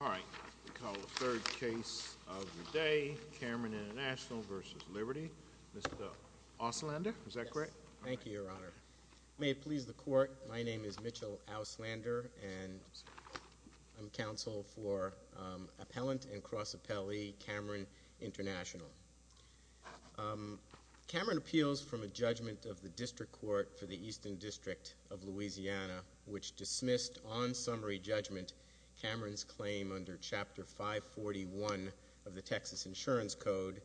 All right, we call the third case of the day, Cameron International v. Liberty, Mr. Auslander, is that correct? Thank you, Your Honor. May it please the Court, my name is Mitchell Auslander and I'm counsel for Appellant and Cross-Appellee Cameron International. Cameron appeals from a judgment of the District Court for the Eastern District of Louisiana, which dismissed on summary judgment Cameron's claim under Chapter 541 of the Texas Insurance Code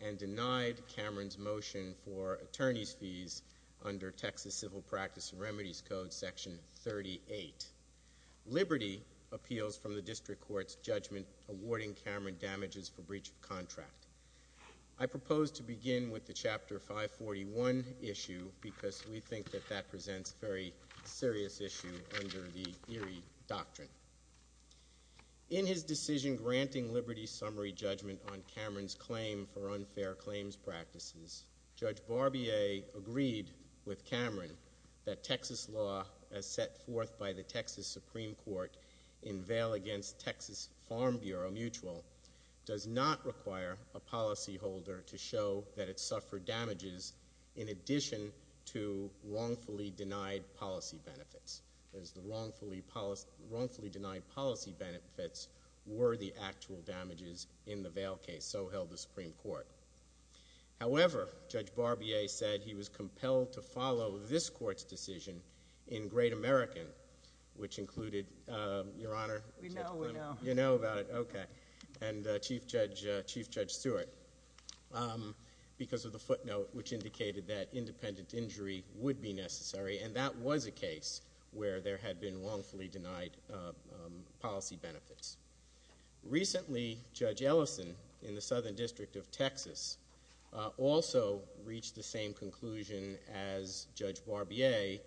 and denied Cameron's motion for attorney's fees under Texas Civil Practice and Remedies Code Section 38. Liberty appeals from the District Court's judgment awarding Cameron damages for breach of contract. I propose to begin with the Chapter 541 issue because we think that that presents a very serious issue under the Erie Doctrine. In his decision granting Liberty summary judgment on Cameron's claim for unfair claims practices, Judge Barbier agreed with Cameron that Texas law, as set forth by the Texas Supreme Court in bail against Texas Farm Bureau Mutual, does not require a policyholder to show that it suffered damages in addition to wrongfully denied policy benefits, as the wrongfully denied policy benefits were the actual damages in the bail case, so held the Supreme Court. However, Judge Barbier said he was compelled to follow this Court's decision in Great American, which included, Your Honor, you know about it, okay, and Chief Judge Stewart, because of the footnote, which indicated that independent injury would be necessary, and that was a case where there had been wrongfully denied policy benefits. Recently, Judge Ellison, in the Southern District of Texas, also reached the same conclusion as Judge Barbier,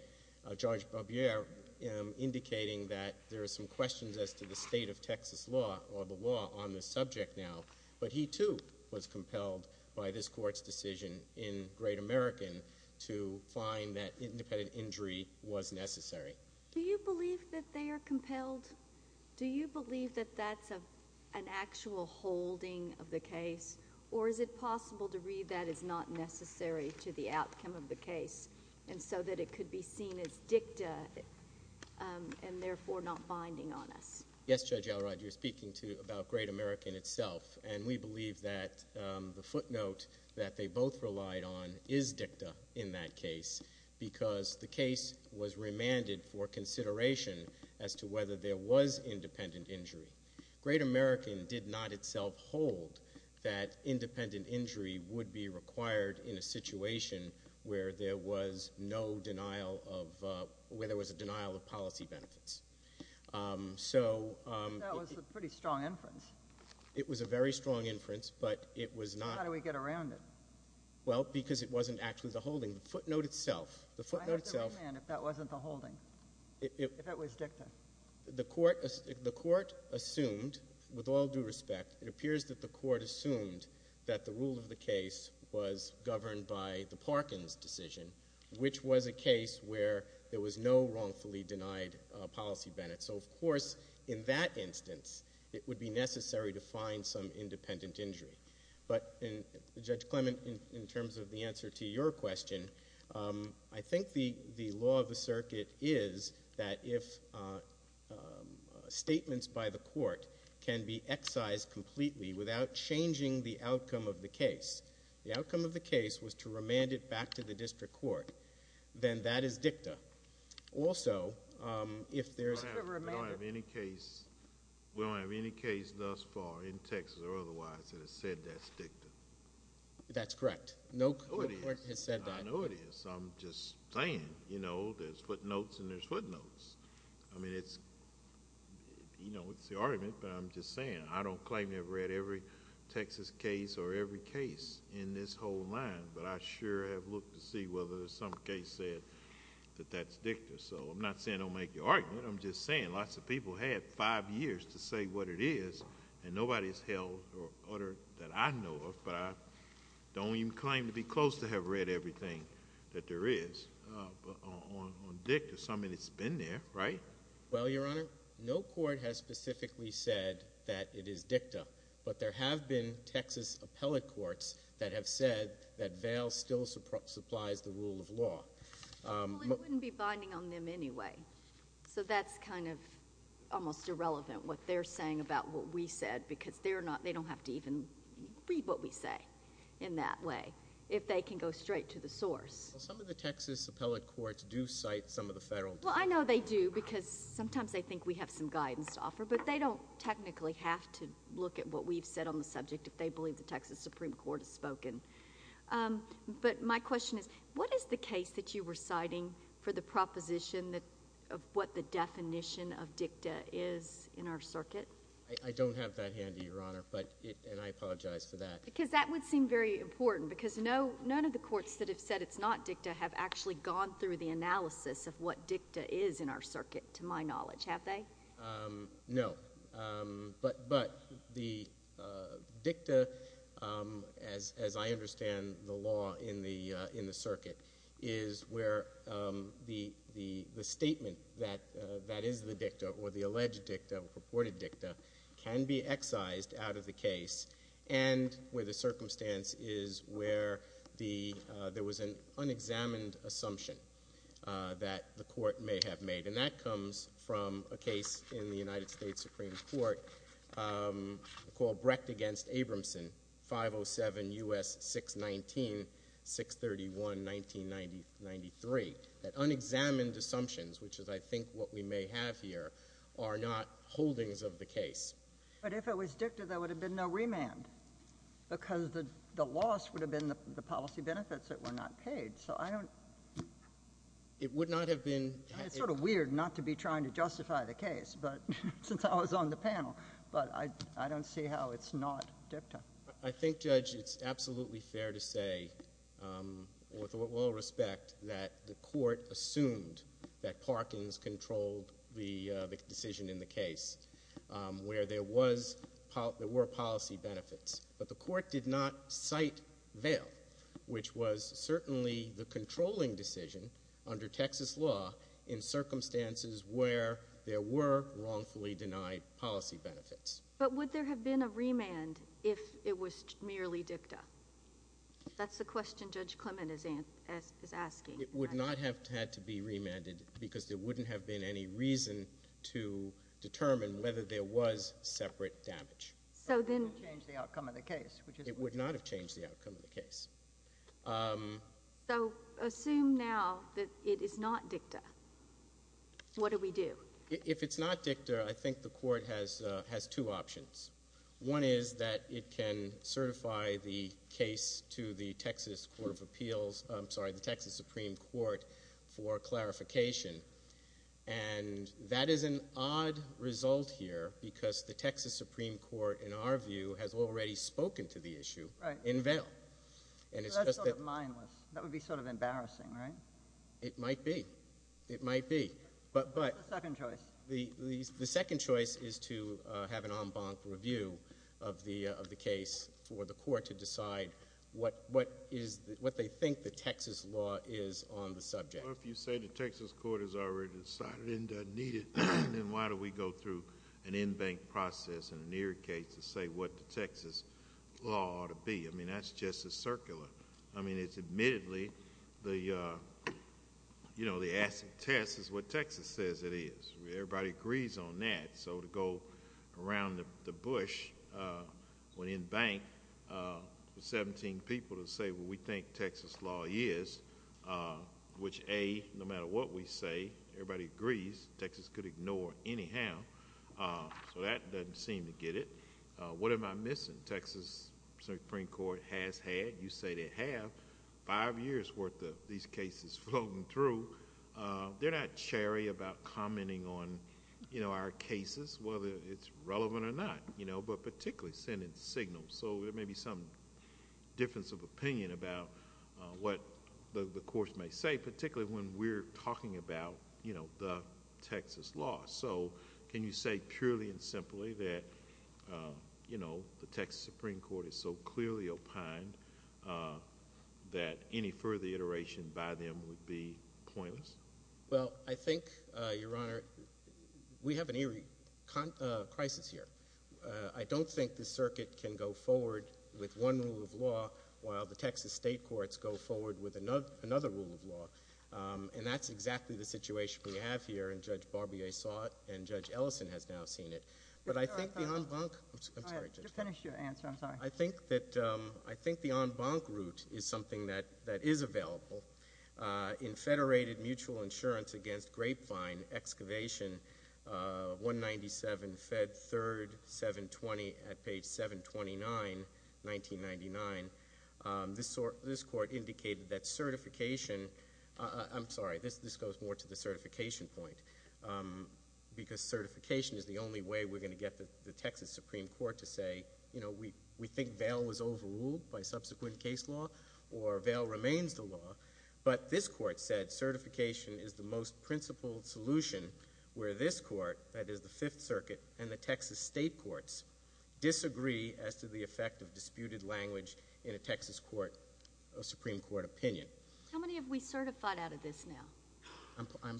indicating that there are some questions as to the state of Texas law or the law on the subject now, but he, too, was compelled by this Court's decision in Great American to find that independent injury was necessary. Do you believe that they are compelled? Do you believe that that's an actual holding of the case, or is it possible to read that as not necessary to the outcome of the case, and so that it could be seen as dicta, and therefore not binding on us? Yes, Judge Elrod, you're speaking about Great American itself, and we believe that the footnote that they both relied on is dicta in that case, because the case was remanded for consideration as to whether there was independent injury. Great American did not itself hold that independent injury would be required in a situation where there was a denial of policy benefits. That was a pretty strong inference. It was a very strong inference, but it was not— How do we get around it? Well, because it wasn't actually the holding. The footnote itself— I have to remand if that wasn't the holding, if it was dicta. The court assumed, with all due respect, it appears that the court assumed that the rule of the case was governed by the Parkins decision, which was a case where there was no wrongfully denied policy benefit. So, of course, in that instance, it would be necessary to find some independent injury. But, Judge Clement, in terms of the answer to your question, I think the law of the circuit is that if statements by the court can be excised completely without changing the outcome of the case, the outcome of the case was to remand it back to the district court, then that is dicta. Also, if there is— We don't have any case thus far in Texas or otherwise that has said that's dicta. That's correct. No court has said that. I know it is. I'm just saying, you know, there's footnotes and there's footnotes. I mean, it's the argument, but I'm just saying. I don't claim to have read every Texas case or every case in this whole line, but I sure have looked to see whether some case said that that's dicta. So, I'm not saying don't make your argument. I'm just saying lots of people had five years to say what it is, and nobody has held or uttered that I know of, but I don't even claim to be close to have read everything that there is on dicta. So, I mean, it's been there, right? Well, Your Honor, no court has specifically said that it is dicta, but there have been Texas appellate courts that have said that VAIL still supplies the rule of law. Well, it wouldn't be binding on them anyway, so that's kind of almost irrelevant what they're saying about what we said because they don't have to even read what we say in that way if they can go straight to the source. Well, some of the Texas appellate courts do cite some of the federal courts. Well, I know they do because sometimes they think we have some guidance to offer, but they don't technically have to look at what we've said on the subject if they believe the Texas Supreme Court has spoken. But my question is, what is the case that you were citing for the proposition of what the definition of dicta is in our circuit? I don't have that handy, Your Honor, and I apologize for that. Because that would seem very important because none of the courts that have said it's not dicta have actually gone through the analysis of what dicta is in our circuit, to my knowledge. Have they? No. But the dicta, as I understand the law in the circuit, is where the statement that is the dicta or the alleged dicta or purported dicta can be excised out of the case and where the circumstance is where there was an unexamined assumption that the court may have made. And that comes from a case in the United States Supreme Court called Brecht v. Abramson, 507 U.S. 619, 631, 1993. That unexamined assumptions, which is, I think, what we may have here, are not holdings of the case. But if it was dicta, there would have been no remand because the loss would have been the policy benefits that were not paid. So I don't... It would not have been... It's sort of weird not to be trying to justify the case since I was on the panel, but I don't see how it's not dicta. I think, Judge, it's absolutely fair to say, with all respect, that the court assumed that Parkins controlled the decision in the case where there were policy benefits. But the court did not cite veil, which was certainly the controlling decision under Texas law in circumstances where there were wrongfully denied policy benefits. But would there have been a remand if it was merely dicta? That's the question Judge Clement is asking. It would not have had to be remanded because there wouldn't have been any reason to determine whether there was separate damage. So then... It wouldn't have changed the outcome of the case. It would not have changed the outcome of the case. So assume now that it is not dicta. What do we do? If it's not dicta, I think the court has two options. One is that it can certify the case to the Texas Supreme Court for clarification. And that is an odd result here because the Texas Supreme Court, in our view, has already spoken to the issue in veil. So that's sort of mindless. That would be sort of embarrassing, right? It might be. It might be. What's the second choice? The second choice is to have an en banc review of the case for the court to decide what they think the Texas law is on the subject. Well, if you say the Texas court has already decided and doesn't need it, then why do we go through an en banc process in a near case to say what the Texas law ought to be? I mean, that's just as circular. I mean, it's admittedly the acid test is what Texas says it is. Everybody agrees on that. So to go around the bush with en banc with 17 people to say what we think Texas law is, which, A, no matter what we say, everybody agrees, Texas could ignore anyhow. So that doesn't seem to get it. What am I missing? Texas Supreme Court has had, you say they have, five years' worth of these cases flown through. They're not cherry about commenting on our cases, whether it's relevant or not, but particularly sending signals. So there may be some difference of opinion about what the courts may say, particularly when we're talking about the Texas law. So can you say purely and simply that, you know, the Texas Supreme Court is so clearly opined that any further iteration by them would be pointless? Well, I think, Your Honor, we have an eerie crisis here. I don't think the circuit can go forward with one rule of law while the Texas state courts go forward with another rule of law. And that's exactly the situation we have here, and Judge Barbier saw it, and Judge Ellison has now seen it. But I think the en banc- I'm sorry, Judge. Just finish your answer. I'm sorry. I think the en banc route is something that is available. In Federated Mutual Insurance Against Grapevine, Excavation, 197 Fed 3rd 720 at page 729, 1999, this court indicated that certification- I'm sorry, this goes more to the certification point. Because certification is the only way we're going to get the Texas Supreme Court to say, you know, we think Vail was overruled by subsequent case law, or Vail remains the law. But this court said certification is the most principled solution where this court, that is the Fifth Circuit, and the Texas state courts disagree as to the effect of disputed language in a Texas Supreme Court opinion. How many have we certified out of this now?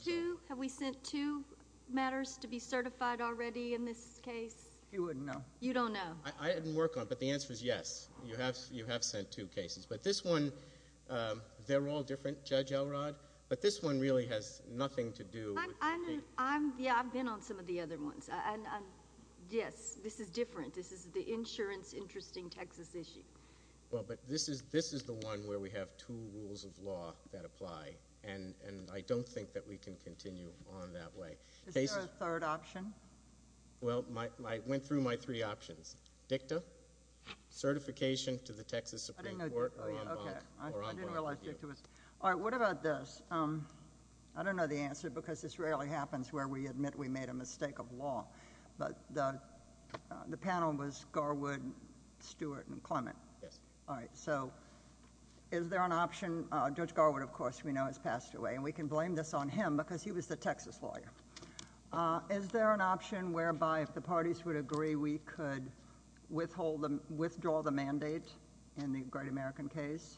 Two. Have we sent two matters to be certified already in this case? You wouldn't know. You don't know. I didn't work on it, but the answer is yes. You have sent two cases. But this one, they're all different, Judge Elrod. But this one really has nothing to do with- Yeah, I've been on some of the other ones. Yes, this is different. This is the insurance-interesting Texas issue. Well, but this is the one where we have two rules of law that apply, and I don't think that we can continue on that way. Is there a third option? Well, I went through my three options. DICTA, certification to the Texas Supreme Court, or en banc. I didn't realize DICTA was- All right, what about this? I don't know the answer because this rarely happens where we admit we made a mistake of law. But the panel was Garwood, Stewart, and Clement. Yes. All right, so is there an option? Judge Garwood, of course, we know has passed away, and we can blame this on him because he was the Texas lawyer. Is there an option whereby if the parties would agree, we could withdraw the mandate in the Great American case?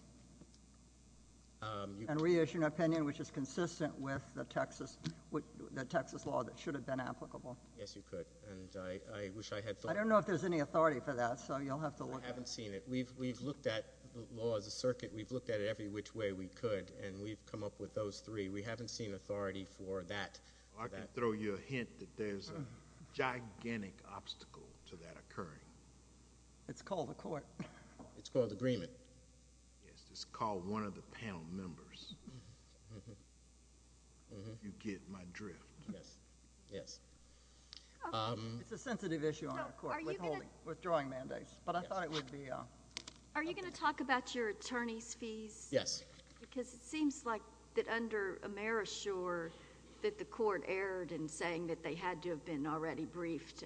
And reissue an opinion which is consistent with the Texas law that should have been applicable. Yes, you could, and I wish I had thought- I don't know if there's any authority for that, so you'll have to look at it. I haven't seen it. We've looked at the law as a circuit. We've looked at it every which way we could, and we've come up with those three. We haven't seen authority for that. I can throw you a hint that there's a gigantic obstacle to that occurring. It's called a court. It's called agreement. Yes, it's called one of the panel members. If you get my drift. Yes. Yes. It's a sensitive issue on our court, withholding, withdrawing mandates, but I thought it would be- Are you going to talk about your attorney's fees? Yes. Because it seems like that under Amerishore that the court erred in saying that they had to have been already briefed.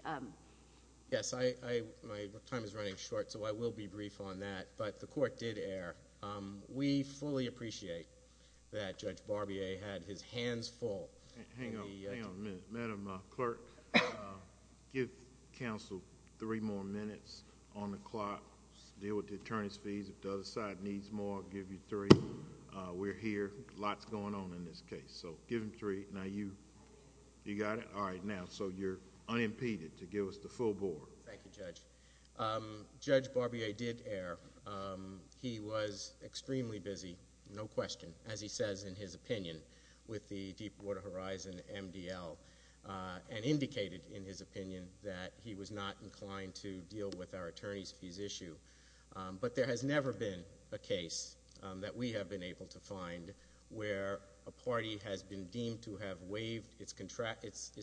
Yes, my time is running short, so I will be brief on that, but the court did err. We fully appreciate that Judge Barbier had his hands full. Hang on a minute. Madam Clerk, give counsel three more minutes on the clock to deal with the attorney's fees. If the other side needs more, I'll give you three. We're here. Lots going on in this case, so give them three. Now, you got it? All right, now, so you're unimpeded to give us the full board. Thank you, Judge. Judge Barbier did err. He was extremely busy, no question, as he says in his opinion, with the Deepwater Horizon MDL and indicated in his opinion that he was not inclined to deal with our attorney's fees issue, but there has never been a case that we have been able to find where a party has been deemed to have waived its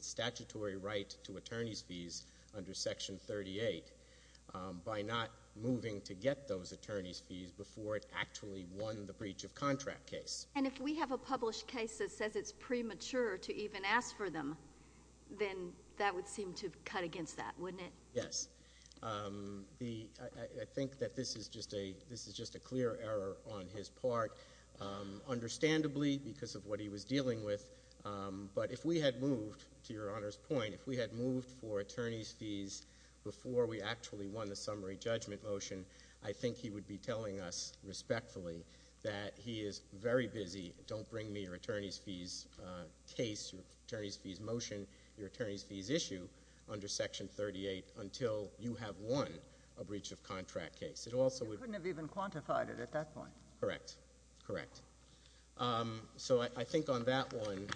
statutory right to attorney's fees under Section 38 by not moving to get those attorney's fees before it actually won the breach of contract case. And if we have a published case that says it's premature to even ask for them, then that would seem to cut against that, wouldn't it? Yes. I think that this is just a clear error on his part, understandably because of what he was dealing with, but if we had moved, to Your Honor's point, if we had moved for attorney's fees before we actually won the summary judgment motion, I think he would be telling us respectfully that he is very busy. Don't bring me your attorney's fees case, your attorney's fees motion, your attorney's fees issue under Section 38 until you have won a breach of contract case. You couldn't have even quantified it at that point. Correct. Correct. So I think on that one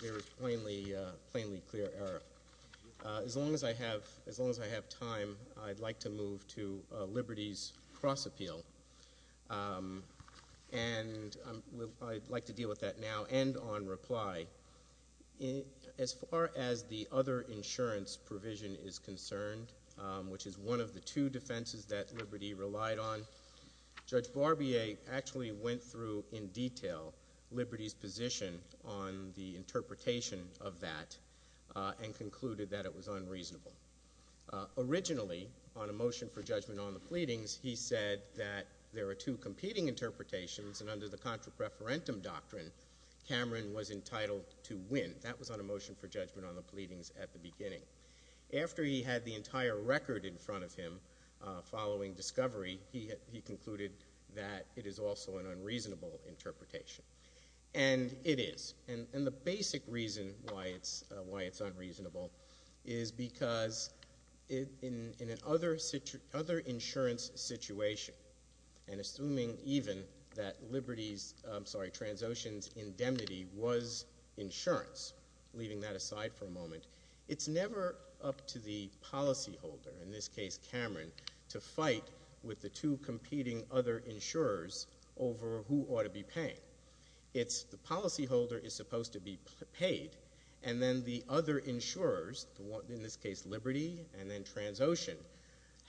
there is a plainly clear error. As long as I have time, I'd like to move to a liberties cross-appeal, and I'd like to deal with that now and on reply. As far as the other insurance provision is concerned, which is one of the two defenses that Liberty relied on, Judge Barbier actually went through in detail Liberty's position on the interpretation of that and concluded that it was unreasonable. Originally, on a motion for judgment on the pleadings, he said that there are two competing interpretations, and under the contra preferentum doctrine, Cameron was entitled to win. That was on a motion for judgment on the pleadings at the beginning. After he had the entire record in front of him following discovery, he concluded that it is also an unreasonable interpretation. And it is. And the basic reason why it's unreasonable is because in an other insurance situation, and assuming even that Liberty's, I'm sorry, Transocean's indemnity was insurance, leaving that aside for a moment, it's never up to the policyholder, in this case Cameron, to fight with the two competing other insurers over who ought to be paying. The policyholder is supposed to be paid, and then the other insurers, in this case Liberty and then Transocean,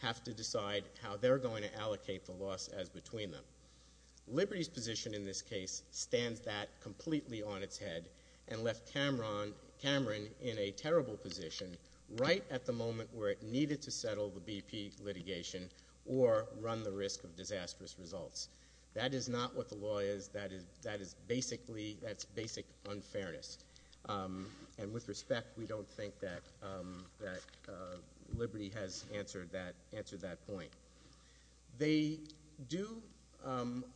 have to decide how they're going to allocate the loss as between them. Liberty's position in this case stands that completely on its head and left Cameron in a terrible position right at the moment where it needed to settle the BP litigation or run the risk of disastrous results. That is not what the law is. That is basically, that's basic unfairness. And with respect, we don't think that Liberty has answered that point. They do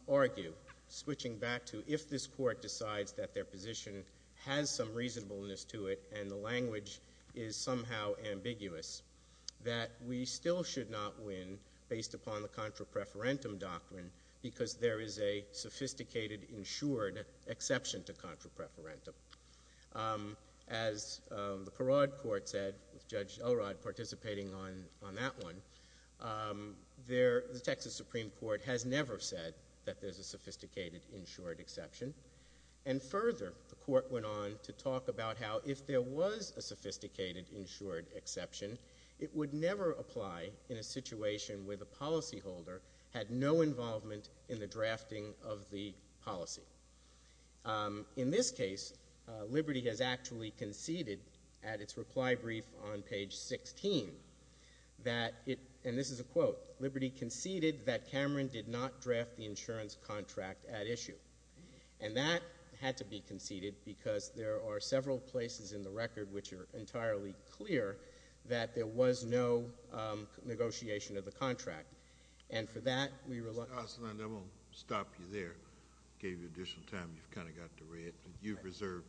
argue, switching back to, if this court decides that their position has some reasonableness to it and the language is somehow ambiguous, that we still should not win based upon the contra preferentum doctrine because there is a sophisticated, insured exception to contra preferentum. As the Parade Court said, with Judge Elrod participating on that one, the Texas Supreme Court has never said that there's a sophisticated, insured exception. And further, the court went on to talk about how if there was a sophisticated, insured exception, it would never apply in a situation where the policyholder had no involvement in the drafting of the policy. In this case, Liberty has actually conceded at its reply brief on page 16 that it, and this is a quote, Liberty conceded that Cameron did not draft the insurance contract at issue. And that had to be conceded because there are several places in the record which are entirely clear that there was no negotiation of the contract. And for that, we reluctantly— Mr. Ossendorf, I won't stop you there. I gave you additional time. You've kind of got to read. You've reserved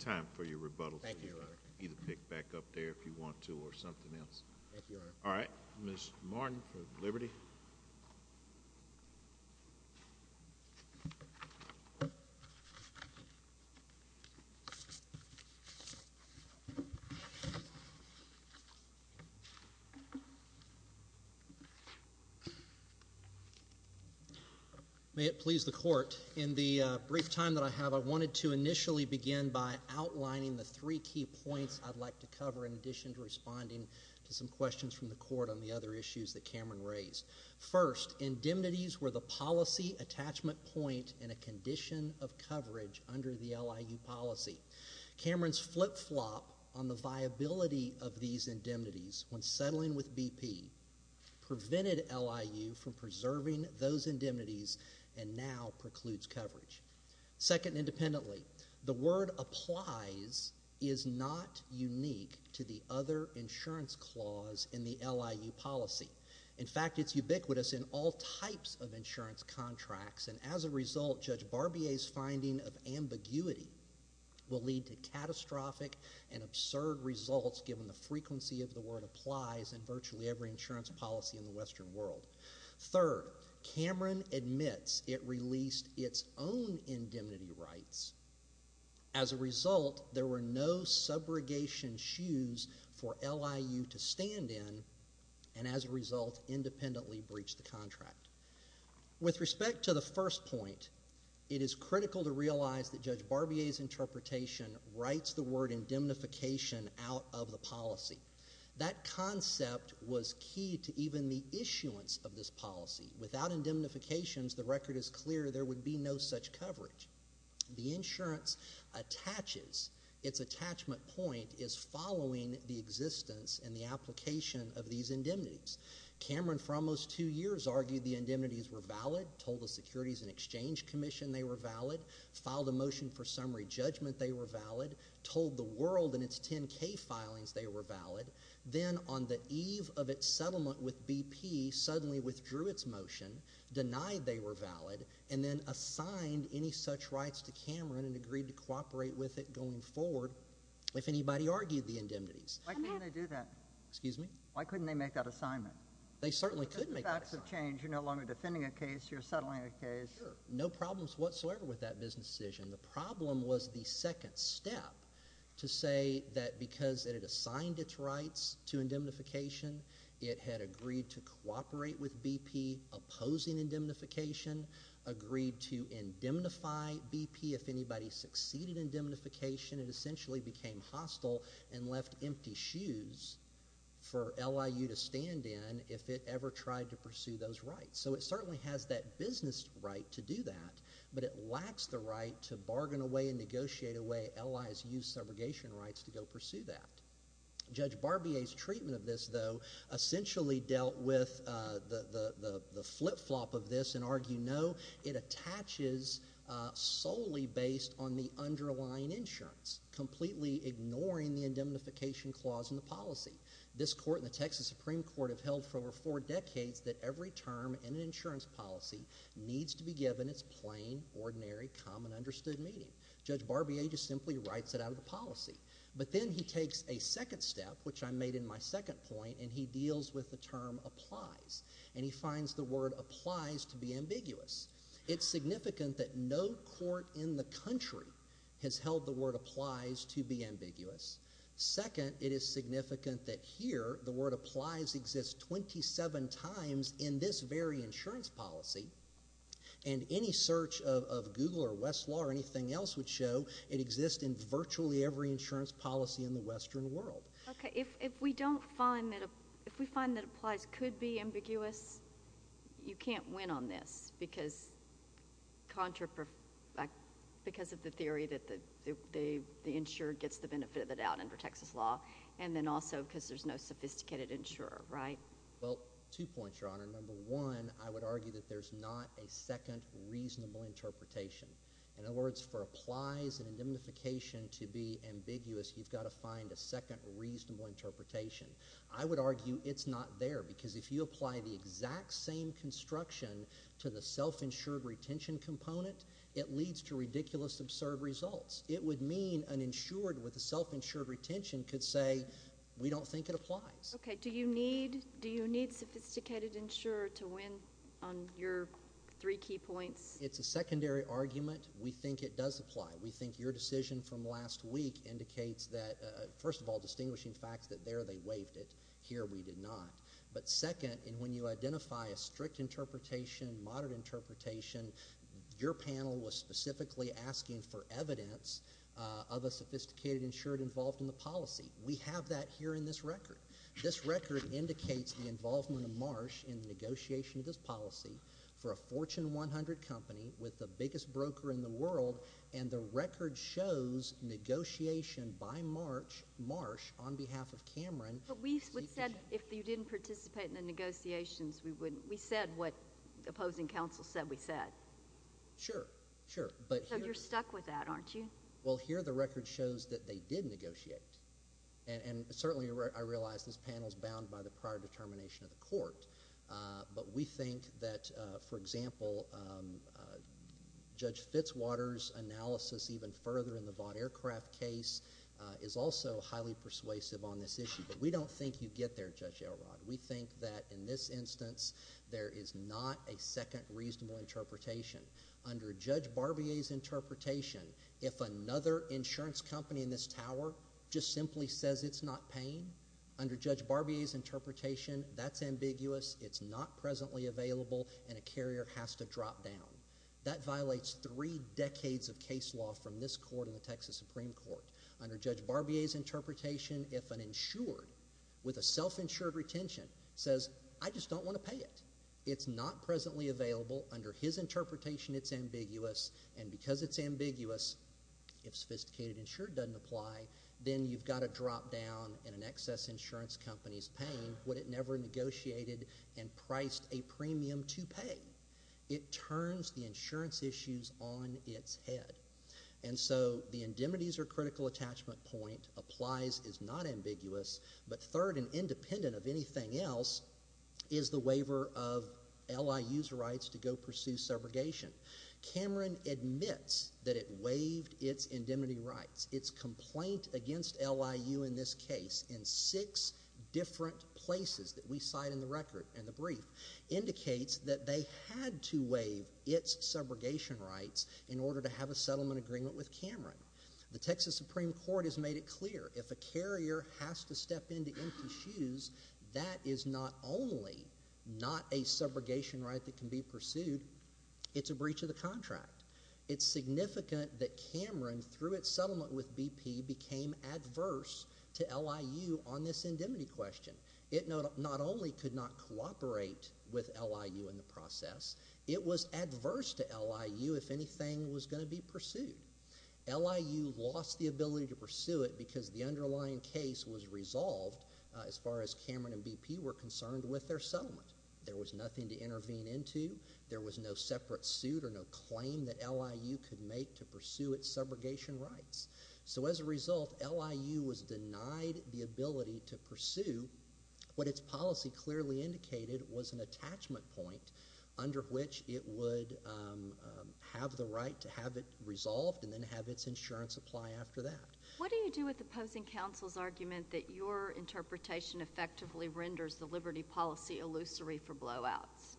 time for your rebuttal. Thank you, Your Honor. You can either pick back up there if you want to or something else. Thank you, Your Honor. All right. Ms. Martin for Liberty. May it please the Court, in the brief time that I have, I wanted to initially begin by outlining the three key points I'd like to cover in addition to responding to some questions from the Court on the other issues that Cameron raised. First, indemnities were the policy attachment point in a condition of coverage under the LIU policy. Cameron's flip-flop on the viability of these indemnities when settling with BP prevented LIU from preserving those indemnities and now precludes coverage. Second, independently, the word applies is not unique to the other insurance clause in the LIU policy. In fact, it's ubiquitous in all types of insurance contracts. And as a result, Judge Barbier's finding of ambiguity will lead to catastrophic and absurd results given the frequency of the word applies in virtually every insurance policy in the Western world. Third, Cameron admits it released its own indemnity rights. As a result, there were no subrogation shoes for LIU to stand in With respect to the first point, it is critical to realize that Judge Barbier's interpretation writes the word indemnification out of the policy. That concept was key to even the issuance of this policy. Without indemnifications, the record is clear there would be no such coverage. The insurance attaches, its attachment point is following the existence and the application of these indemnities. Cameron for almost two years argued the indemnities were valid, told the Securities and Exchange Commission they were valid, filed a motion for summary judgment they were valid, told the world in its 10K filings they were valid. Then on the eve of its settlement with BP, suddenly withdrew its motion, denied they were valid, and then assigned any such rights to Cameron and agreed to cooperate with it going forward if anybody argued the indemnities. Why can't they do that? Excuse me? Why couldn't they make that assignment? They certainly could make that assignment. The facts have changed. You're no longer defending a case. You're settling a case. Sure. No problems whatsoever with that business decision. The problem was the second step to say that because it had assigned its rights to indemnification, it had agreed to cooperate with BP opposing indemnification, agreed to indemnify BP if anybody succeeded indemnification, it essentially became hostile and left empty shoes for LIU to stand in if it ever tried to pursue those rights. So it certainly has that business right to do that, but it lacks the right to bargain away and negotiate away LIU's subrogation rights to go pursue that. Judge Barbier's treatment of this, though, it attaches solely based on the underlying insurance, completely ignoring the indemnification clause in the policy. This court and the Texas Supreme Court have held for over four decades that every term in an insurance policy needs to be given its plain, ordinary, common, understood meaning. Judge Barbier just simply writes it out of the policy. But then he takes a second step, which I made in my second point, and he deals with the term applies, and he finds the word applies to be ambiguous. It's significant that no court in the country has held the word applies to be ambiguous. Second, it is significant that here the word applies exists 27 times in this very insurance policy, and any search of Google or Westlaw or anything else would show it exists in virtually every insurance policy in the Western world. Okay. If we find that applies could be ambiguous, you can't win on this because of the theory that the insurer gets the benefit of the doubt under Texas law and then also because there's no sophisticated insurer, right? Well, two points, Your Honor. Number one, I would argue that there's not a second reasonable interpretation. In other words, for applies and indemnification to be ambiguous, you've got to find a second reasonable interpretation. I would argue it's not there because if you apply the exact same construction to the self-insured retention component, it leads to ridiculous, absurd results. It would mean an insured with a self-insured retention could say we don't think it applies. Okay. Do you need sophisticated insurer to win on your three key points? It's a secondary argument. We think it does apply. We think your decision from last week indicates that, first of all, distinguishing facts that there they waived it. Here we did not. But second, and when you identify a strict interpretation, moderate interpretation, your panel was specifically asking for evidence of a sophisticated insured involved in the policy. We have that here in this record. This record indicates the involvement of Marsh in the negotiation of this policy for a Fortune 100 company with the biggest broker in the world. And the record shows negotiation by Marsh on behalf of Cameron. But we said if you didn't participate in the negotiations, we said what opposing counsel said we said. Sure, sure. So you're stuck with that, aren't you? Well, here the record shows that they did negotiate. And certainly I realize this panel is bound by the prior determination of the court. But we think that, for example, Judge Fitzwater's analysis even further in the Vaught Aircraft case is also highly persuasive on this issue. But we don't think you get there, Judge Elrod. We think that in this instance there is not a second reasonable interpretation. Under Judge Barbier's interpretation, if another insurance company in this tower just simply says it's not paying, under Judge Barbier's interpretation, that's ambiguous, it's not presently available, and a carrier has to drop down. That violates three decades of case law from this court and the Texas Supreme Court. Under Judge Barbier's interpretation, if an insured with a self-insured retention says I just don't want to pay it, it's not presently available, under his interpretation it's ambiguous, and because it's ambiguous, if sophisticated insured doesn't apply, then you've got to drop down in an excess insurance company's pain when it never negotiated and priced a premium to pay. It turns the insurance issues on its head. And so the indemnities or critical attachment point applies, is not ambiguous, but third and independent of anything else is the waiver of LIU's rights to go pursue subrogation. Cameron admits that it waived its indemnity rights. Its complaint against LIU in this case in six different places that we cite in the record, in the brief, indicates that they had to waive its subrogation rights in order to have a settlement agreement with Cameron. The Texas Supreme Court has made it clear if a carrier has to step into empty shoes, that is not only not a subrogation right that can be pursued, it's a breach of the contract. It's significant that Cameron, through its settlement with BP, became adverse to LIU on this indemnity question. It not only could not cooperate with LIU in the process, it was adverse to LIU if anything was going to be pursued. LIU lost the ability to pursue it because the underlying case was resolved as far as Cameron and BP were concerned with their settlement. There was nothing to intervene into. There was no separate suit or no claim that LIU could make to pursue its subrogation rights. So as a result, LIU was denied the ability to pursue what its policy clearly indicated was an attachment point under which it would have the right to have it resolved and then have its insurance apply after that. What do you do with opposing counsel's argument that your interpretation effectively renders the liberty policy illusory for blowouts?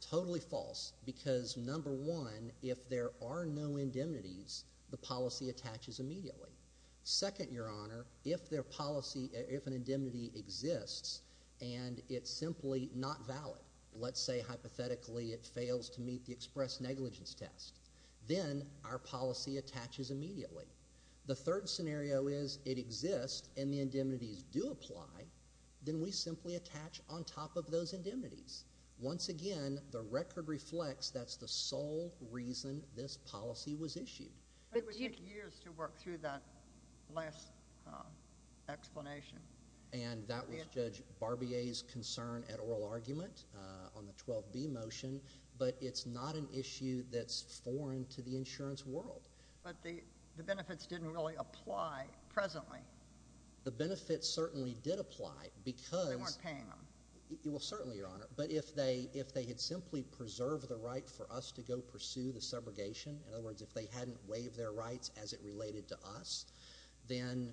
Totally false because, number one, if there are no indemnities, the policy attaches immediately. Second, Your Honor, if an indemnity exists and it's simply not valid, let's say hypothetically it fails to meet the express negligence test, then our policy attaches immediately. The third scenario is it exists and the indemnities do apply, then we simply attach on top of those indemnities. Once again, the record reflects that's the sole reason this policy was issued. It would take years to work through that last explanation. And that was Judge Barbier's concern at oral argument on the 12B motion, but it's not an issue that's foreign to the insurance world. But the benefits didn't really apply presently. The benefits certainly did apply because— They weren't paying them. Well, certainly, Your Honor. But if they had simply preserved the right for us to go pursue the subrogation, in other words, if they hadn't waived their rights as it related to us, then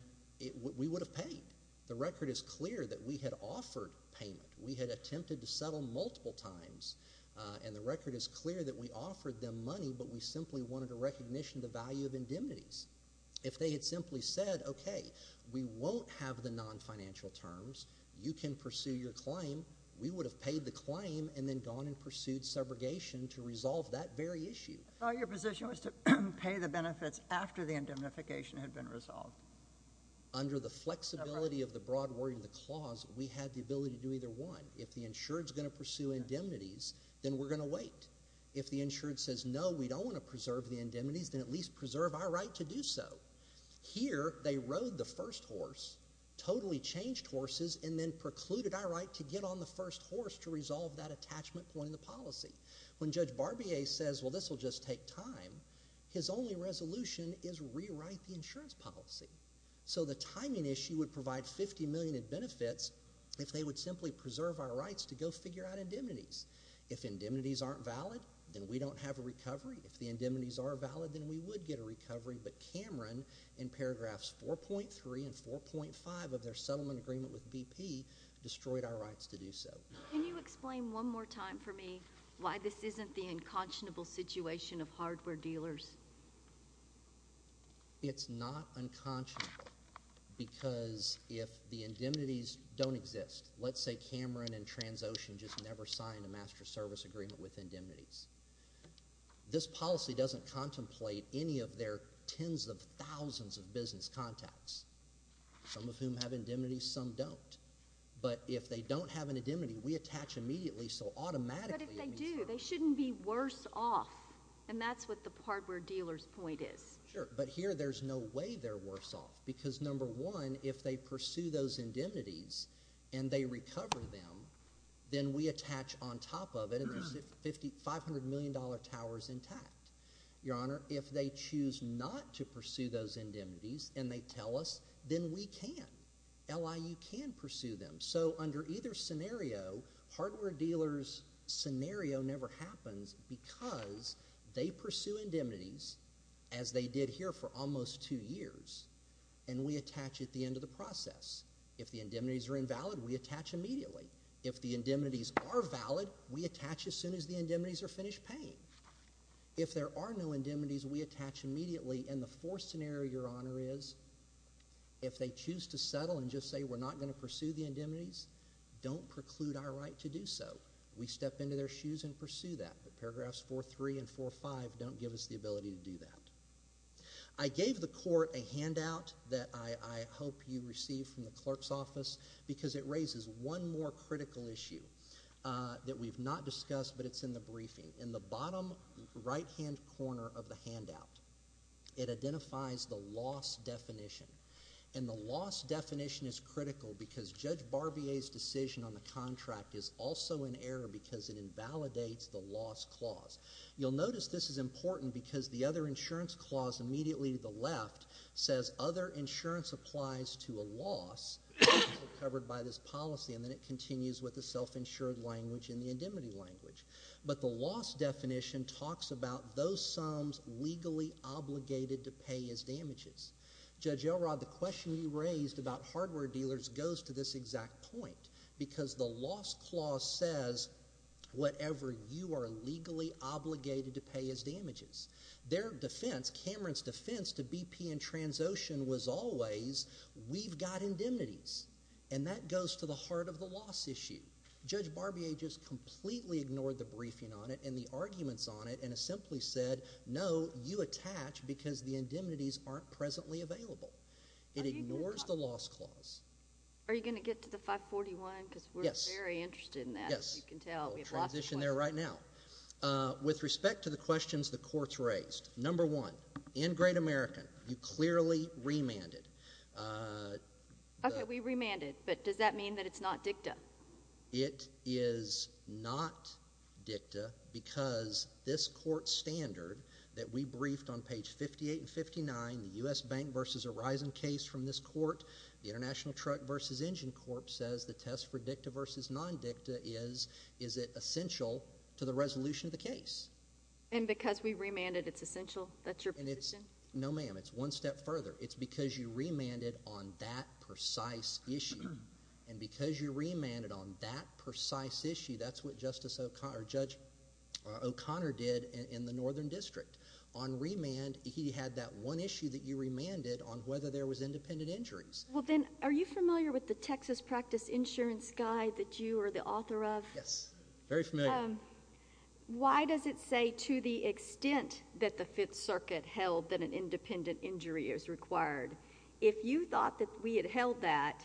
we would have paid. The record is clear that we had offered payment. We had attempted to settle multiple times, and the record is clear that we offered them money, but we simply wanted a recognition of the value of indemnities. If they had simply said, okay, we won't have the nonfinancial terms, you can pursue your claim, we would have paid the claim and then gone and pursued subrogation to resolve that very issue. Your position was to pay the benefits after the indemnification had been resolved. Under the flexibility of the broad wording of the clause, we had the ability to do either one. If the insured is going to pursue indemnities, then we're going to wait. If the insured says, no, we don't want to preserve the indemnities, then at least preserve our right to do so. Here, they rode the first horse, totally changed horses, and then precluded our right to get on the first horse to resolve that attachment point in the policy. When Judge Barbier says, well, this will just take time, his only resolution is rewrite the insurance policy. So the timing issue would provide $50 million in benefits if they would simply preserve our rights to go figure out indemnities. If indemnities aren't valid, then we don't have a recovery. If the indemnities are valid, then we would get a recovery. But Cameron, in paragraphs 4.3 and 4.5 of their settlement agreement with BP, destroyed our rights to do so. Can you explain one more time for me why this isn't the unconscionable situation of hardware dealers? It's not unconscionable because if the indemnities don't exist, let's say Cameron and Transocean just never signed a master service agreement with indemnities. This policy doesn't contemplate any of their tens of thousands of business contacts, some of whom have indemnities, some don't. But if they don't have an indemnity, we attach immediately, so automatically – But if they do, they shouldn't be worse off, and that's what the hardware dealer's point is. Sure, but here there's no way they're worse off because, number one, if they pursue those indemnities and they recover them, then we attach on top of it and there's $500 million towers intact. Your Honor, if they choose not to pursue those indemnities and they tell us, then we can. LIU can pursue them. So under either scenario, hardware dealer's scenario never happens because they pursue indemnities, as they did here for almost two years, and we attach at the end of the process. If the indemnities are invalid, we attach immediately. If the indemnities are valid, we attach as soon as the indemnities are finished paying. If there are no indemnities, we attach immediately, and the fourth scenario, Your Honor, is if they choose to settle and just say we're not going to pursue the indemnities, don't preclude our right to do so. We step into their shoes and pursue that, but paragraphs 4.3 and 4.5 don't give us the ability to do that. I gave the Court a handout that I hope you receive from the clerk's office because it raises one more critical issue that we've not discussed, but it's in the briefing. In the bottom right-hand corner of the handout, it identifies the loss definition, and the loss definition is critical because Judge Barbier's decision on the contract is also in error because it invalidates the loss clause. You'll notice this is important because the other insurance clause immediately to the left says other insurance applies to a loss covered by this policy, and then it continues with the self-insured language and the indemnity language. But the loss definition talks about those sums legally obligated to pay as damages. Judge Elrod, the question you raised about hardware dealers goes to this exact point because the loss clause says whatever you are legally obligated to pay as damages. Their defense, Cameron's defense to BP and Transocean was always we've got indemnities, and that goes to the heart of the loss issue. Judge Barbier just completely ignored the briefing on it and the arguments on it and has simply said, no, you attach because the indemnities aren't presently available. It ignores the loss clause. Are you going to get to the 541? Yes. Because we're very interested in that. Yes. As you can tell, we have lots of questions. We'll transition there right now. With respect to the questions the Court's raised, number one, in Great American, you clearly remanded. Okay. We remanded. But does that mean that it's not dicta? It is not dicta because this Court standard that we briefed on page 58 and 59, the U.S. Bank v. Horizon case from this Court, the International Truck v. Engine Corp. says the test for dicta v. non-dicta is, is it essential to the resolution of the case? And because we remanded, it's essential? That's your position? No, ma'am. It's one step further. It's because you remanded on that precise issue. And because you remanded on that precise issue, that's what Justice O'Connor, Judge O'Connor did in the Northern District. On remand, he had that one issue that you remanded on whether there was independent injuries. Well, then, are you familiar with the Texas Practice Insurance Guide that you are the author of? Yes. Very familiar. Why does it say to the extent that the Fifth Circuit held that an independent injury is required? If you thought that we had held that,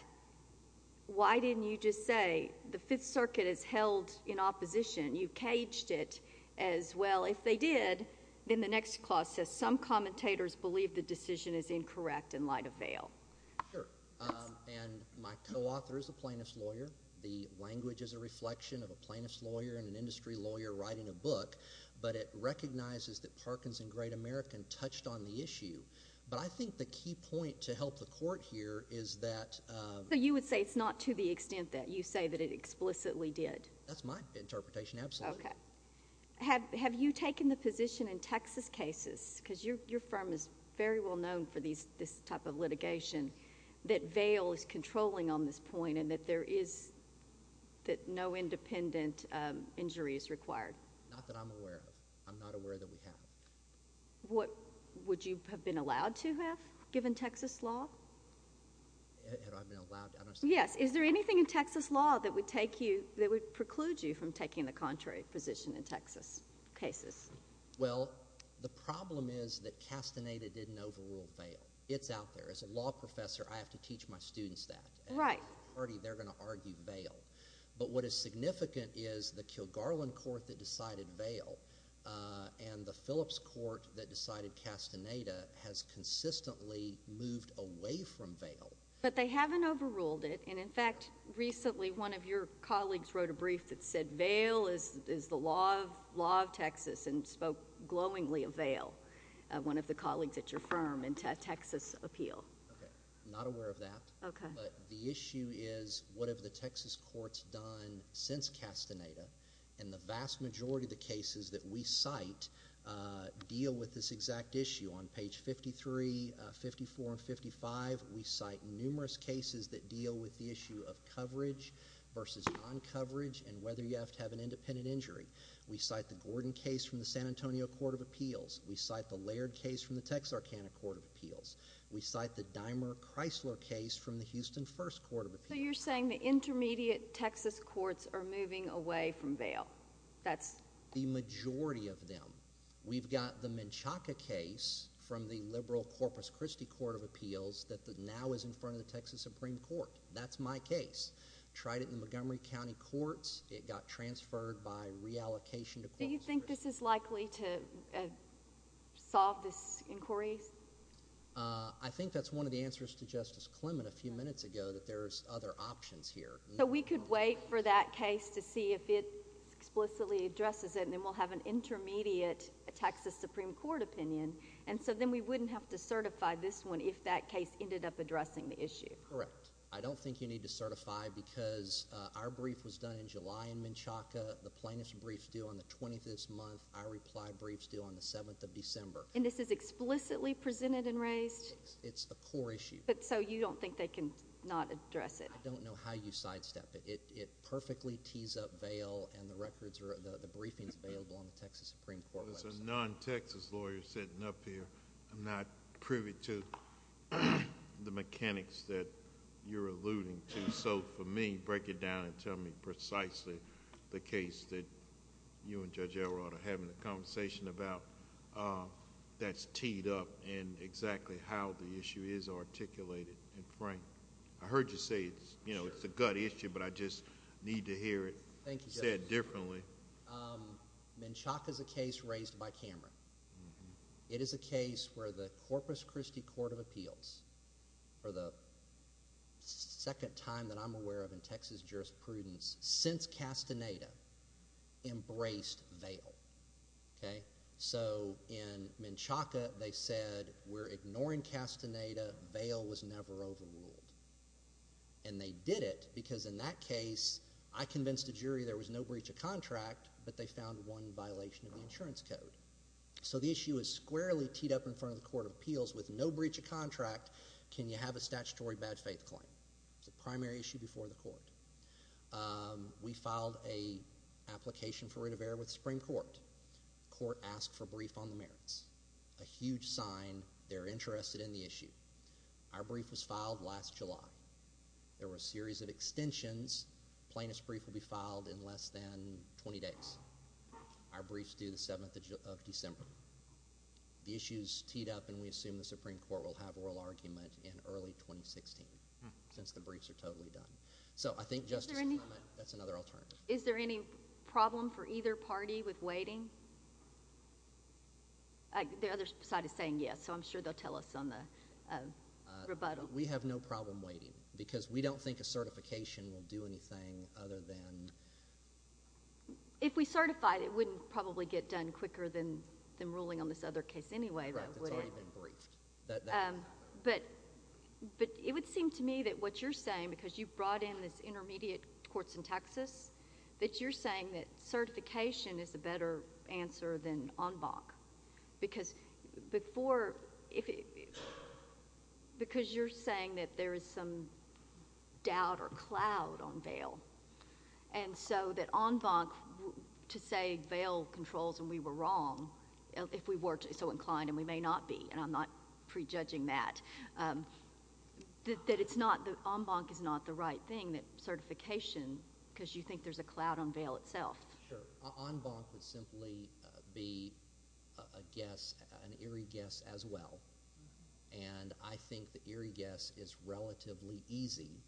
why didn't you just say the Fifth Circuit has held in opposition? You caged it as well. If they did, then the next clause says some commentators believe the decision is incorrect in light of veil. Sure. And my co-author is a plaintiff's lawyer. The language is a reflection of a plaintiff's lawyer and an industry lawyer writing a book, but it recognizes that Parkinson Great American touched on the issue. But I think the key point to help the court here is that— So you would say it's not to the extent that you say that it explicitly did? That's my interpretation, absolutely. Okay. Have you taken the position in Texas cases, because your firm is very well known for this type of litigation, that veil is controlling on this point and that no independent injury is required? Not that I'm aware of. I'm not aware that we have. Would you have been allowed to have given Texas law? Had I been allowed? Yes. Is there anything in Texas law that would preclude you from taking the contrary position in Texas cases? Well, the problem is that Castaneda didn't overrule veil. It's out there. As a law professor, I have to teach my students that. Right. They're going to argue veil. But what is significant is the Kilgarlin court that decided veil and the Phillips court that decided Castaneda has consistently moved away from veil. But they haven't overruled it. And, in fact, recently one of your colleagues wrote a brief that said veil is the law of Texas and spoke glowingly of veil, one of the colleagues at your firm, in a Texas appeal. Okay. I'm not aware of that. Okay. But the issue is what have the Texas courts done since Castaneda? And the vast majority of the cases that we cite deal with this exact issue. On page 53, 54, and 55, we cite numerous cases that deal with the issue of coverage versus non-coverage and whether you have to have an independent injury. We cite the Gordon case from the San Antonio Court of Appeals. We cite the Laird case from the Texarkana Court of Appeals. We cite the Dimer-Chrysler case from the Houston First Court of Appeals. So you're saying the intermediate Texas courts are moving away from veil. That's the majority of them. We've got the Menchaca case from the liberal Corpus Christi Court of Appeals that now is in front of the Texas Supreme Court. That's my case. Tried it in the Montgomery County courts. It got transferred by reallocation to Corpus Christi. Do you think this is likely to solve this inquiry? I think that's one of the answers to Justice Clement a few minutes ago that there's other options here. So we could wait for that case to see if it explicitly addresses it, and then we'll have an intermediate Texas Supreme Court opinion. And so then we wouldn't have to certify this one if that case ended up addressing the issue. Correct. I don't think you need to certify because our brief was done in July in Menchaca. The plaintiff's brief is due on the 20th of this month. Our reply brief is due on the 7th of December. And this is explicitly presented and raised? It's a core issue. So you don't think they can not address it? I don't know how you sidestep it. It perfectly tees up veil, and the briefings are available on the Texas Supreme Court website. Well, as a non-Texas lawyer sitting up here, I'm not privy to the mechanics that you're alluding to. So for me, break it down and tell me precisely the case that you and Judge Elrod are having a conversation about that's teed up and exactly how the issue is articulated and framed. I heard you say it's a gut issue, but I just need to hear it said differently. Menchaca is a case raised by Cameron. It is a case where the Corpus Christi Court of Appeals, for the second time that I'm aware of in Texas jurisprudence since Castaneda, embraced veil. So in Menchaca, they said we're ignoring Castaneda. Veil was never overruled. And they did it because in that case, I convinced the jury there was no breach of contract, but they found one violation of the insurance code. So the issue is squarely teed up in front of the Court of Appeals with no breach of contract. Can you have a statutory bad faith claim? It's a primary issue before the court. We filed an application for writ of error with the Supreme Court. The court asked for a brief on the merits, a huge sign they're interested in the issue. Our brief was filed last July. There were a series of extensions. Plaintiff's brief will be filed in less than 20 days. Our brief is due the 7th of December. The issue is teed up, and we assume the Supreme Court will have oral argument in early 2016 since the briefs are totally done. So I think Justice Clement, that's another alternative. Is there any problem for either party with waiting? The other side is saying yes, so I'm sure they'll tell us on the rebuttal. We have no problem waiting because we don't think a certification will do anything other than... If we certified, it wouldn't probably get done quicker than ruling on this other case anyway, though, would it? Correct. It's already been briefed. But it would seem to me that what you're saying, because you brought in this intermediate courts in Texas, that you're saying that certification is a better answer than en banc because you're saying that there is some doubt or cloud on bail. And so that en banc, to say bail controls and we were wrong, if we were so inclined, and we may not be, and I'm not prejudging that, that en banc is not the right thing, that certification, because you think there's a cloud on bail itself. Sure. En banc would simply be a guess, an eerie guess as well. And I think the eerie guess is relatively easy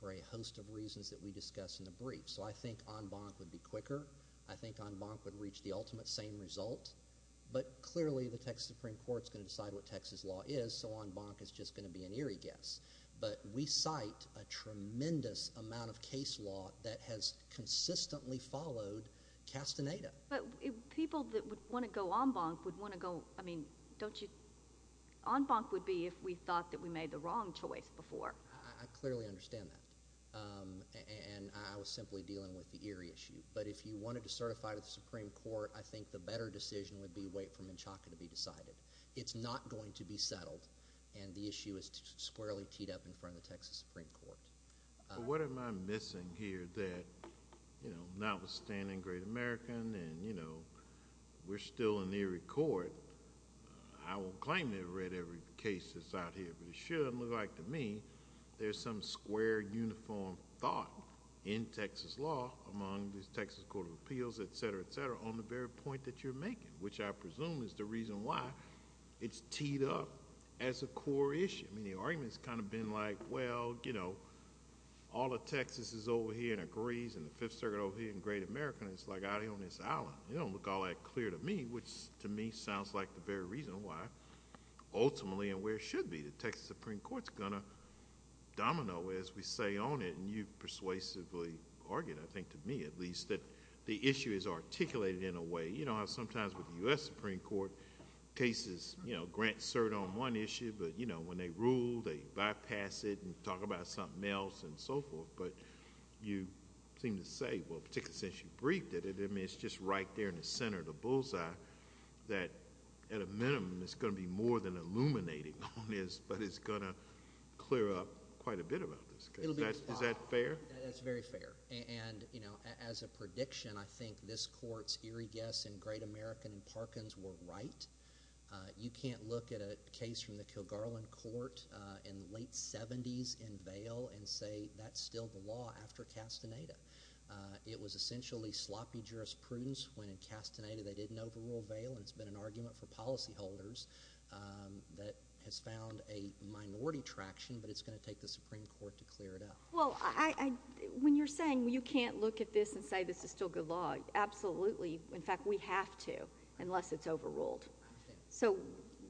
for a host of reasons that we discussed in the brief. So I think en banc would be quicker. I think en banc would reach the ultimate same result. But clearly the Texas Supreme Court is going to decide what Texas law is, so en banc is just going to be an eerie guess. But we cite a tremendous amount of case law that has consistently followed Castaneda. But people that would want to go en banc would want to go—I mean, don't you—en banc would be if we thought that we made the wrong choice before. I clearly understand that. And I was simply dealing with the eerie issue. But if you wanted to certify to the Supreme Court, I think the better decision would be wait for Menchaca to be decided. It's not going to be settled, and the issue is squarely teed up in front of the Texas Supreme Court. But what am I missing here that, notwithstanding Great American and we're still in the eerie court, I won't claim to have read every case that's out here, but it should look like to me there's some square, uniform thought in Texas law among the Texas Court of Appeals, et cetera, et cetera, on the very point that you're making, which I presume is the reason why it's teed up as a core issue. I mean, the argument's kind of been like, well, you know, all of Texas is over here and agrees, and the Fifth Circuit over here and Great American is like out here on this island. It don't look all that clear to me, which to me sounds like the very reason why ultimately and where it should be, the Texas Supreme Court's going to domino as we say on it, and you persuasively argued, I think to me at least, that the issue is articulated in a way. You know how sometimes with the U.S. Supreme Court, cases grant cert on one issue, but when they rule, they bypass it and talk about something else and so forth. But you seem to say, well, particularly since you briefed it, it's just right there in the center of the bullseye that at a minimum it's going to be more than illuminating on this, but it's going to clear up quite a bit about this. Is that fair? That's very fair. And, you know, as a prediction, I think this Court's eerie guess in Great American and Parkins were right. You can't look at a case from the Kilgarlin Court in the late 70s in bail and say that's still the law after Castaneda. It was essentially sloppy jurisprudence when in Castaneda they didn't overrule bail, and it's been an argument for policyholders that has found a minority traction, but it's going to take the Supreme Court to clear it up. Well, when you're saying you can't look at this and say this is still good law, absolutely. In fact, we have to unless it's overruled. So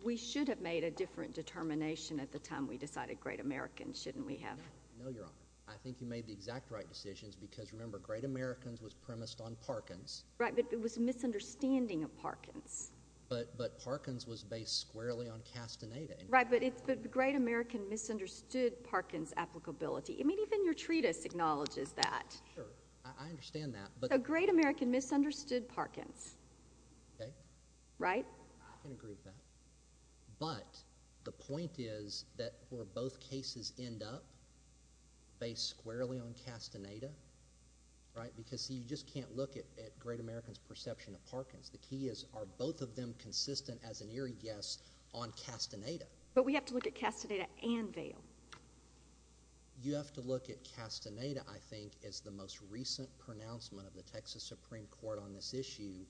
we should have made a different determination at the time we decided Great American, shouldn't we have? No, Your Honor. I think you made the exact right decisions because, remember, Great Americans was premised on Parkins. Right, but it was a misunderstanding of Parkins. But Parkins was based squarely on Castaneda. Right, but Great American misunderstood Parkins applicability. I mean, even your treatise acknowledges that. Sure, I understand that. So Great American misunderstood Parkins. Okay. Right? I can agree with that. But the point is that were both cases end up based squarely on Castaneda, right, because, see, you just can't look at Great American's perception of Parkins. The key is are both of them consistent as an eerie guess on Castaneda. But we have to look at Castaneda and bail. You have to look at Castaneda, I think, as the most recent pronouncement of the Texas Supreme Court on this issue.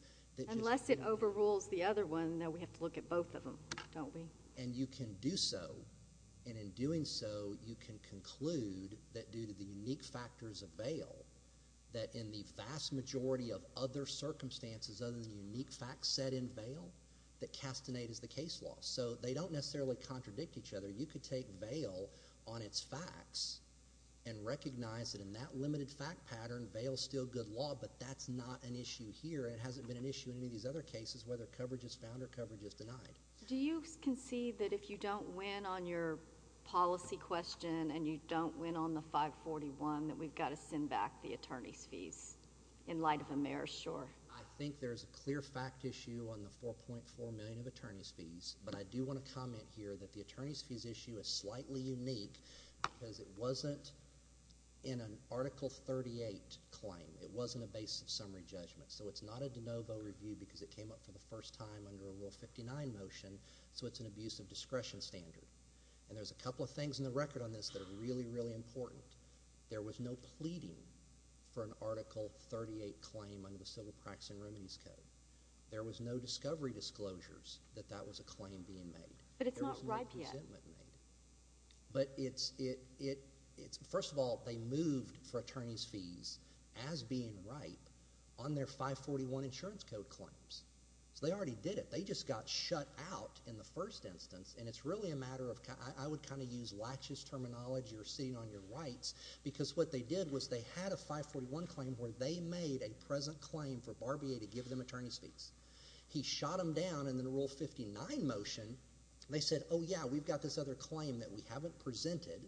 Unless it overrules the other one, then we have to look at both of them, don't we? And you can do so. And in doing so, you can conclude that due to the unique factors of bail, that in the vast majority of other circumstances other than unique facts set in bail, that Castaneda is the case law. So they don't necessarily contradict each other. You could take bail on its facts and recognize that in that limited fact pattern, bail is still good law, but that's not an issue here. And it hasn't been an issue in any of these other cases, whether coverage is found or coverage is denied. Do you concede that if you don't win on your policy question and you don't win on the 541, that we've got to send back the attorney's fees in light of AmeriShore? I think there's a clear fact issue on the $4.4 million of attorney's fees, but I do want to comment here that the attorney's fees issue is slightly unique because it wasn't in an Article 38 claim. It wasn't a base of summary judgment. So it's not a de novo review because it came up for the first time under a Rule 59 motion. So it's an abuse of discretion standard. And there's a couple of things in the record on this that are really, really important. There was no pleading for an Article 38 claim under the Civil Practice and Remedies Code. There was no discovery disclosures that that was a claim being made. But it's not ripe yet. But it's – first of all, they moved for attorney's fees as being ripe on their 541 insurance code claims. So they already did it. They just got shut out in the first instance, and it's really a matter of – I would kind of use lachish terminology or sitting on your rights because what they did was they had a 541 claim where they made a present claim for Barbier to give them attorney's fees. He shot them down in the Rule 59 motion. They said, oh, yeah, we've got this other claim that we haven't presented.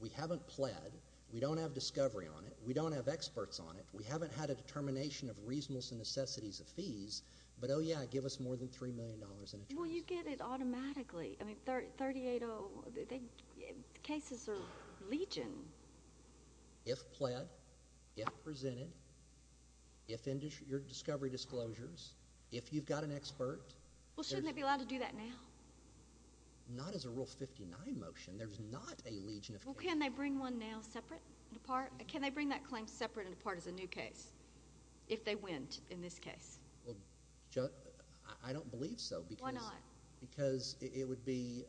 We haven't pled. We don't have discovery on it. We don't have experts on it. We haven't had a determination of reasonableness and necessities of fees. But, oh, yeah, give us more than $3 million in attorney's fees. Well, you get it automatically. I mean, 380 – the cases are legion. If pled, if presented, if your discovery disclosures, if you've got an expert. Well, shouldn't they be allowed to do that now? Not as a Rule 59 motion. There's not a legion of case. Well, can they bring one now separate and apart? Can they bring that claim separate and apart as a new case if they win in this case? Well, I don't believe so. Why not? Because it would be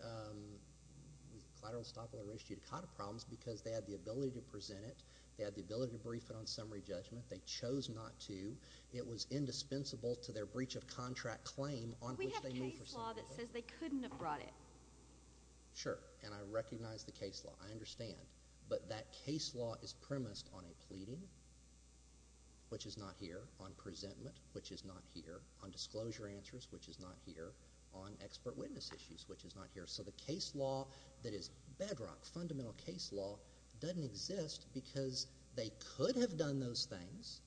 collateral, estoppel, or res judicata problems because they had the ability to present it. They had the ability to brief it on summary judgment. They chose not to. It was indispensable to their breach of contract claim on which they knew for certain. We have case law that says they couldn't have brought it. Sure, and I recognize the case law. I understand. But that case law is premised on a pleading, which is not here, on presentment, which is not here, on disclosure answers, which is not here, on expert witness issues, which is not here. So the case law that is bedrock, fundamental case law, doesn't exist because they could have done those things.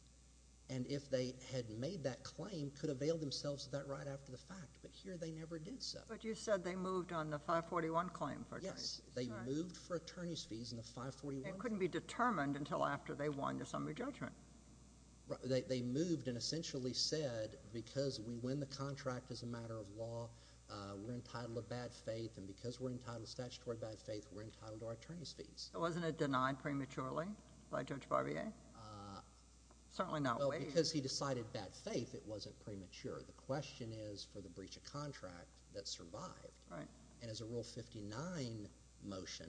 And if they had made that claim, could have veiled themselves to that right after the fact. But here they never did so. But you said they moved on the 541 claim for attorneys. Yes, they moved for attorneys' fees in the 541. It couldn't be determined until after they won the summary judgment. They moved and essentially said because we win the contract as a matter of law, we're entitled to bad faith, and because we're entitled to statutory bad faith, we're entitled to our attorneys' fees. Wasn't it denied prematurely by Judge Barbier? Certainly not waived. Because he decided bad faith, it wasn't premature. The question is for the breach of contract that survived. Right. And as a Rule 59 motion,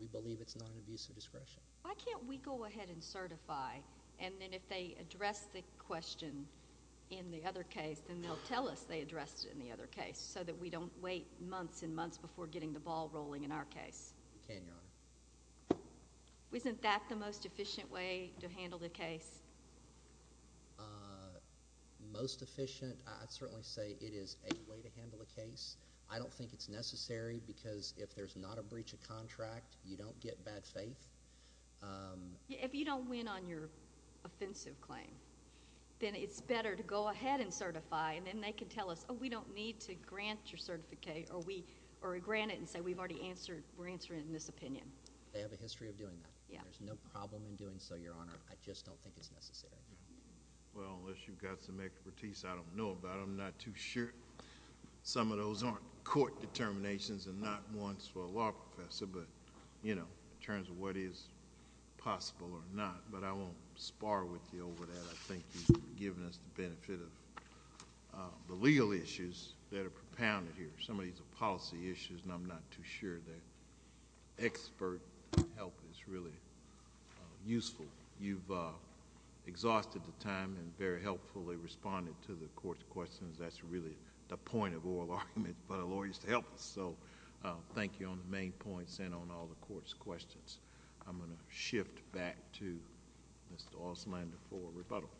we believe it's not an abuse of discretion. Why can't we go ahead and certify, and then if they address the question in the other case, then they'll tell us they addressed it in the other case so that we don't wait months and months before getting the ball rolling in our case? We can, Your Honor. Isn't that the most efficient way to handle the case? Most efficient? I'd certainly say it is a way to handle the case. I don't think it's necessary because if there's not a breach of contract, you don't get bad faith. If you don't win on your offensive claim, then it's better to go ahead and certify, and then they can tell us, oh, we don't need to grant your certificate or grant it and say we're answering it in this opinion. They have a history of doing that. There's no problem in doing so, Your Honor. I just don't think it's necessary. Well, unless you've got some expertise I don't know about. I'm not too sure. Some of those aren't court determinations and not ones for a law professor, but in terms of what is possible or not. But I won't spar with you over that. I think you've given us the benefit of the legal issues that are propounded here. Some of these are policy issues and I'm not too sure that expert help is really useful. You've exhausted the time and very helpfully responded to the court's questions. That's really the point of oral argument for the lawyers to help us. Thank you on the main points and on all the court's questions. I'm going to shift back to Mr. Auslander for rebuttal.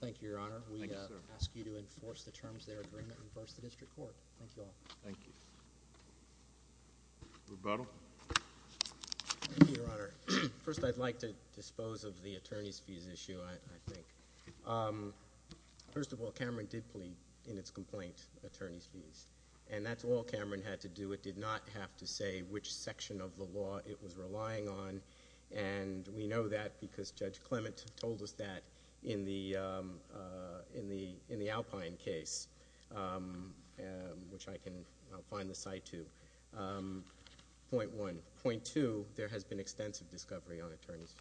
Thank you, Your Honor. Thank you, sir. I ask you to enforce the terms of their agreement and verse the district court. Thank you all. Thank you. Rebuttal. Thank you, Your Honor. First, I'd like to dispose of the attorney's fees issue, I think. First of all, Cameron did plead in its complaint attorney's fees, and that's all Cameron had to do. It did not have to say which section of the law it was relying on, and we know that because Judge Clement told us that in the Alpine case, which I can find the site to. Point one. Point two, there has been extensive discovery on attorney's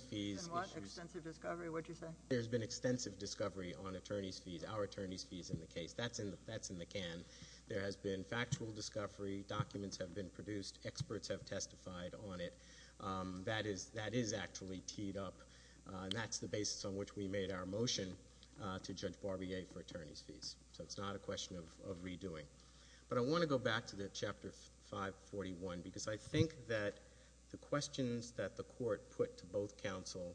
fees. In what? Extensive discovery? What did you say? There's been extensive discovery on attorney's fees. Our attorney's fees in the case. That's in the can. There has been factual discovery. Documents have been produced. Experts have testified on it. That is actually teed up, and that's the basis on which we made our motion to Judge Barbier for attorney's fees. So it's not a question of redoing. But I want to go back to the Chapter 541, because I think that the questions that the court put to both counsel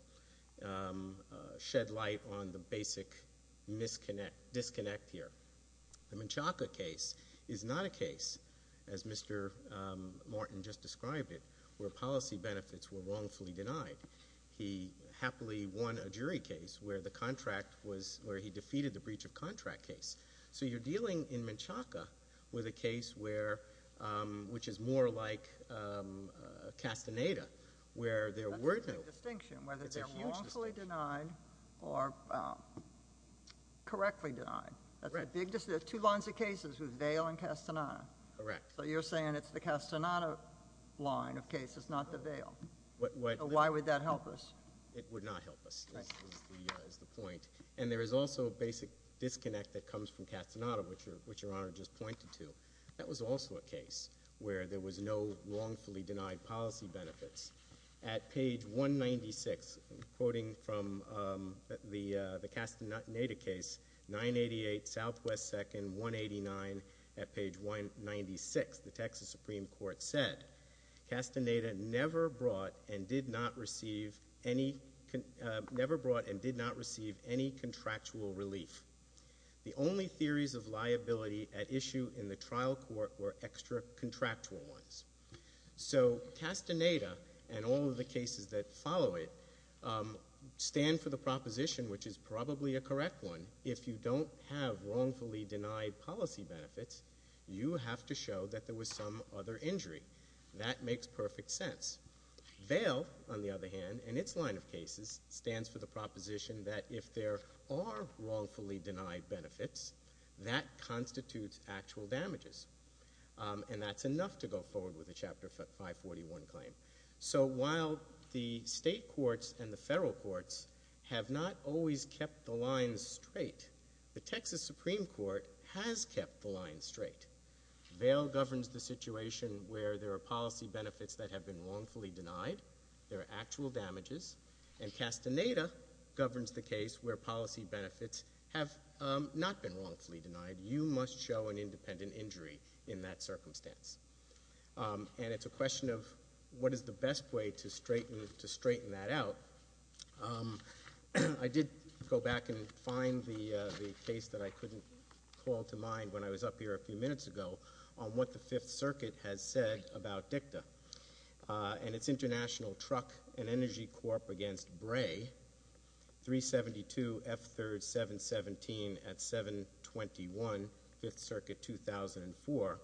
shed light on the basic disconnect here. The Menchaca case is not a case, as Mr. Martin just described it, where policy benefits were wrongfully denied. He happily won a jury case where he defeated the breach of contract case. So you're dealing in Menchaca with a case which is more like Castaneda, where there were no— That's a big distinction, whether they're wrongfully denied or correctly denied. That's a big distinction. There are two lines of cases with Vail and Castaneda. Correct. So you're saying it's the Castaneda line of cases, not the Vail. Why would that help us? It would not help us, is the point. And there is also a basic disconnect that comes from Castaneda, which Your Honor just pointed to. That was also a case where there was no wrongfully denied policy benefits. At page 196, quoting from the Castaneda case, 988 Southwest 2nd, 189, at page 196, the Texas Supreme Court said, Castaneda never brought and did not receive any contractual relief. The only theories of liability at issue in the trial court were extra-contractual ones. So Castaneda and all of the cases that follow it stand for the proposition, which is probably a correct one, if you don't have wrongfully denied policy benefits, you have to show that there was some other injury. That makes perfect sense. Vail, on the other hand, in its line of cases, stands for the proposition that if there are wrongfully denied benefits, that constitutes actual damages. And that's enough to go forward with the Chapter 541 claim. So while the state courts and the federal courts have not always kept the lines straight, the Texas Supreme Court has kept the lines straight. Vail governs the situation where there are policy benefits that have been wrongfully denied. There are actual damages. And Castaneda governs the case where policy benefits have not been wrongfully denied. You must show an independent injury in that circumstance. And it's a question of what is the best way to straighten that out. I did go back and find the case that I couldn't call to mind when I was up here a few minutes ago on what the Fifth Circuit has said about DICTA. And it's International Truck and Energy Corp. against Bray, 372 F3rd 717 at 721, Fifth Circuit 2004.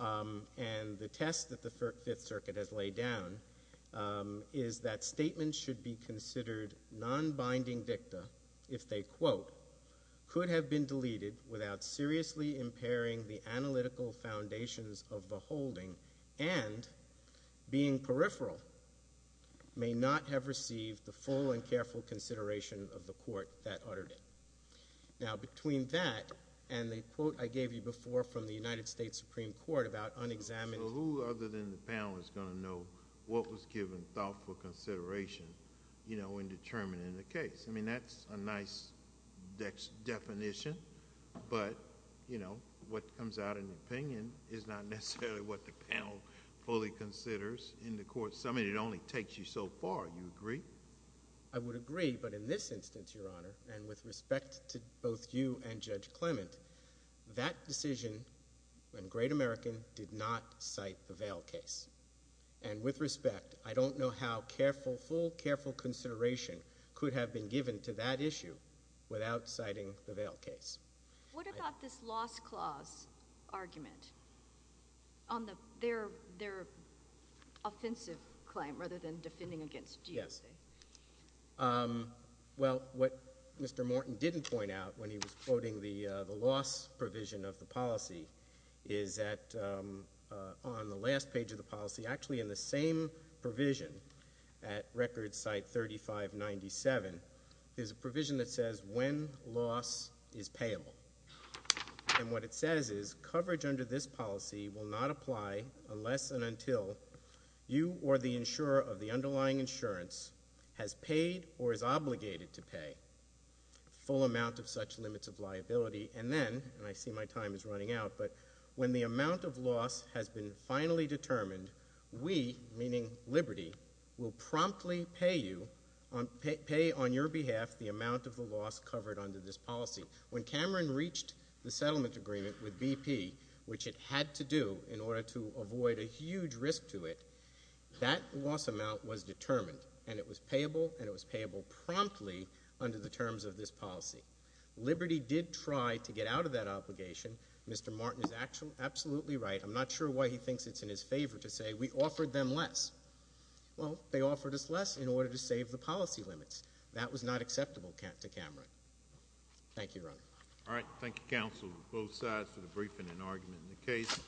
And the test that the Fifth Circuit has laid down is that statements should be considered non-binding DICTA if they, quote, could have been deleted without seriously impairing the analytical foundations of the holding and being peripheral may not have received the full and careful consideration of the court that uttered it. Now, between that and the quote I gave you before from the United States Supreme Court about unexamined. So who other than the panel is going to know what was given thoughtful consideration, you know, in determining the case? I mean, that's a nice definition. But, you know, what comes out in the opinion is not necessarily what the panel fully considers in the court. I mean, it only takes you so far. Do you agree? I would agree. But in this instance, Your Honor, and with respect to both you and Judge Clement, that decision when Great American did not cite the Vail case. And with respect, I don't know how careful, full, careful consideration could have been given to that issue without citing the Vail case. What about this loss clause argument on their offensive claim rather than defending against DOJ? Yes. Well, what Mr. Morton didn't point out when he was quoting the loss provision of the policy is that on the last page of the policy, actually in the same provision at record site 3597, there's a provision that says when loss is payable. And what it says is coverage under this policy will not apply unless and until you or the insurer of the underlying insurance has paid or is obligated to pay full amount of such limits of liability. And then, and I see my time is running out, but when the amount of loss has been finally determined, we, meaning Liberty, will promptly pay on your behalf the amount of the loss covered under this policy. When Cameron reached the settlement agreement with BP, which it had to do in order to avoid a huge risk to it, that loss amount was determined. And it was payable, and it was payable promptly under the terms of this policy. Liberty did try to get out of that obligation. Mr. Morton is absolutely right. I'm not sure why he thinks it's in his favor to say we offered them less. Well, they offered us less in order to save the policy limits. That was not acceptable to Cameron. Thank you, Your Honor. All right. Thank you, counsel, both sides, for the briefing and argument in the case.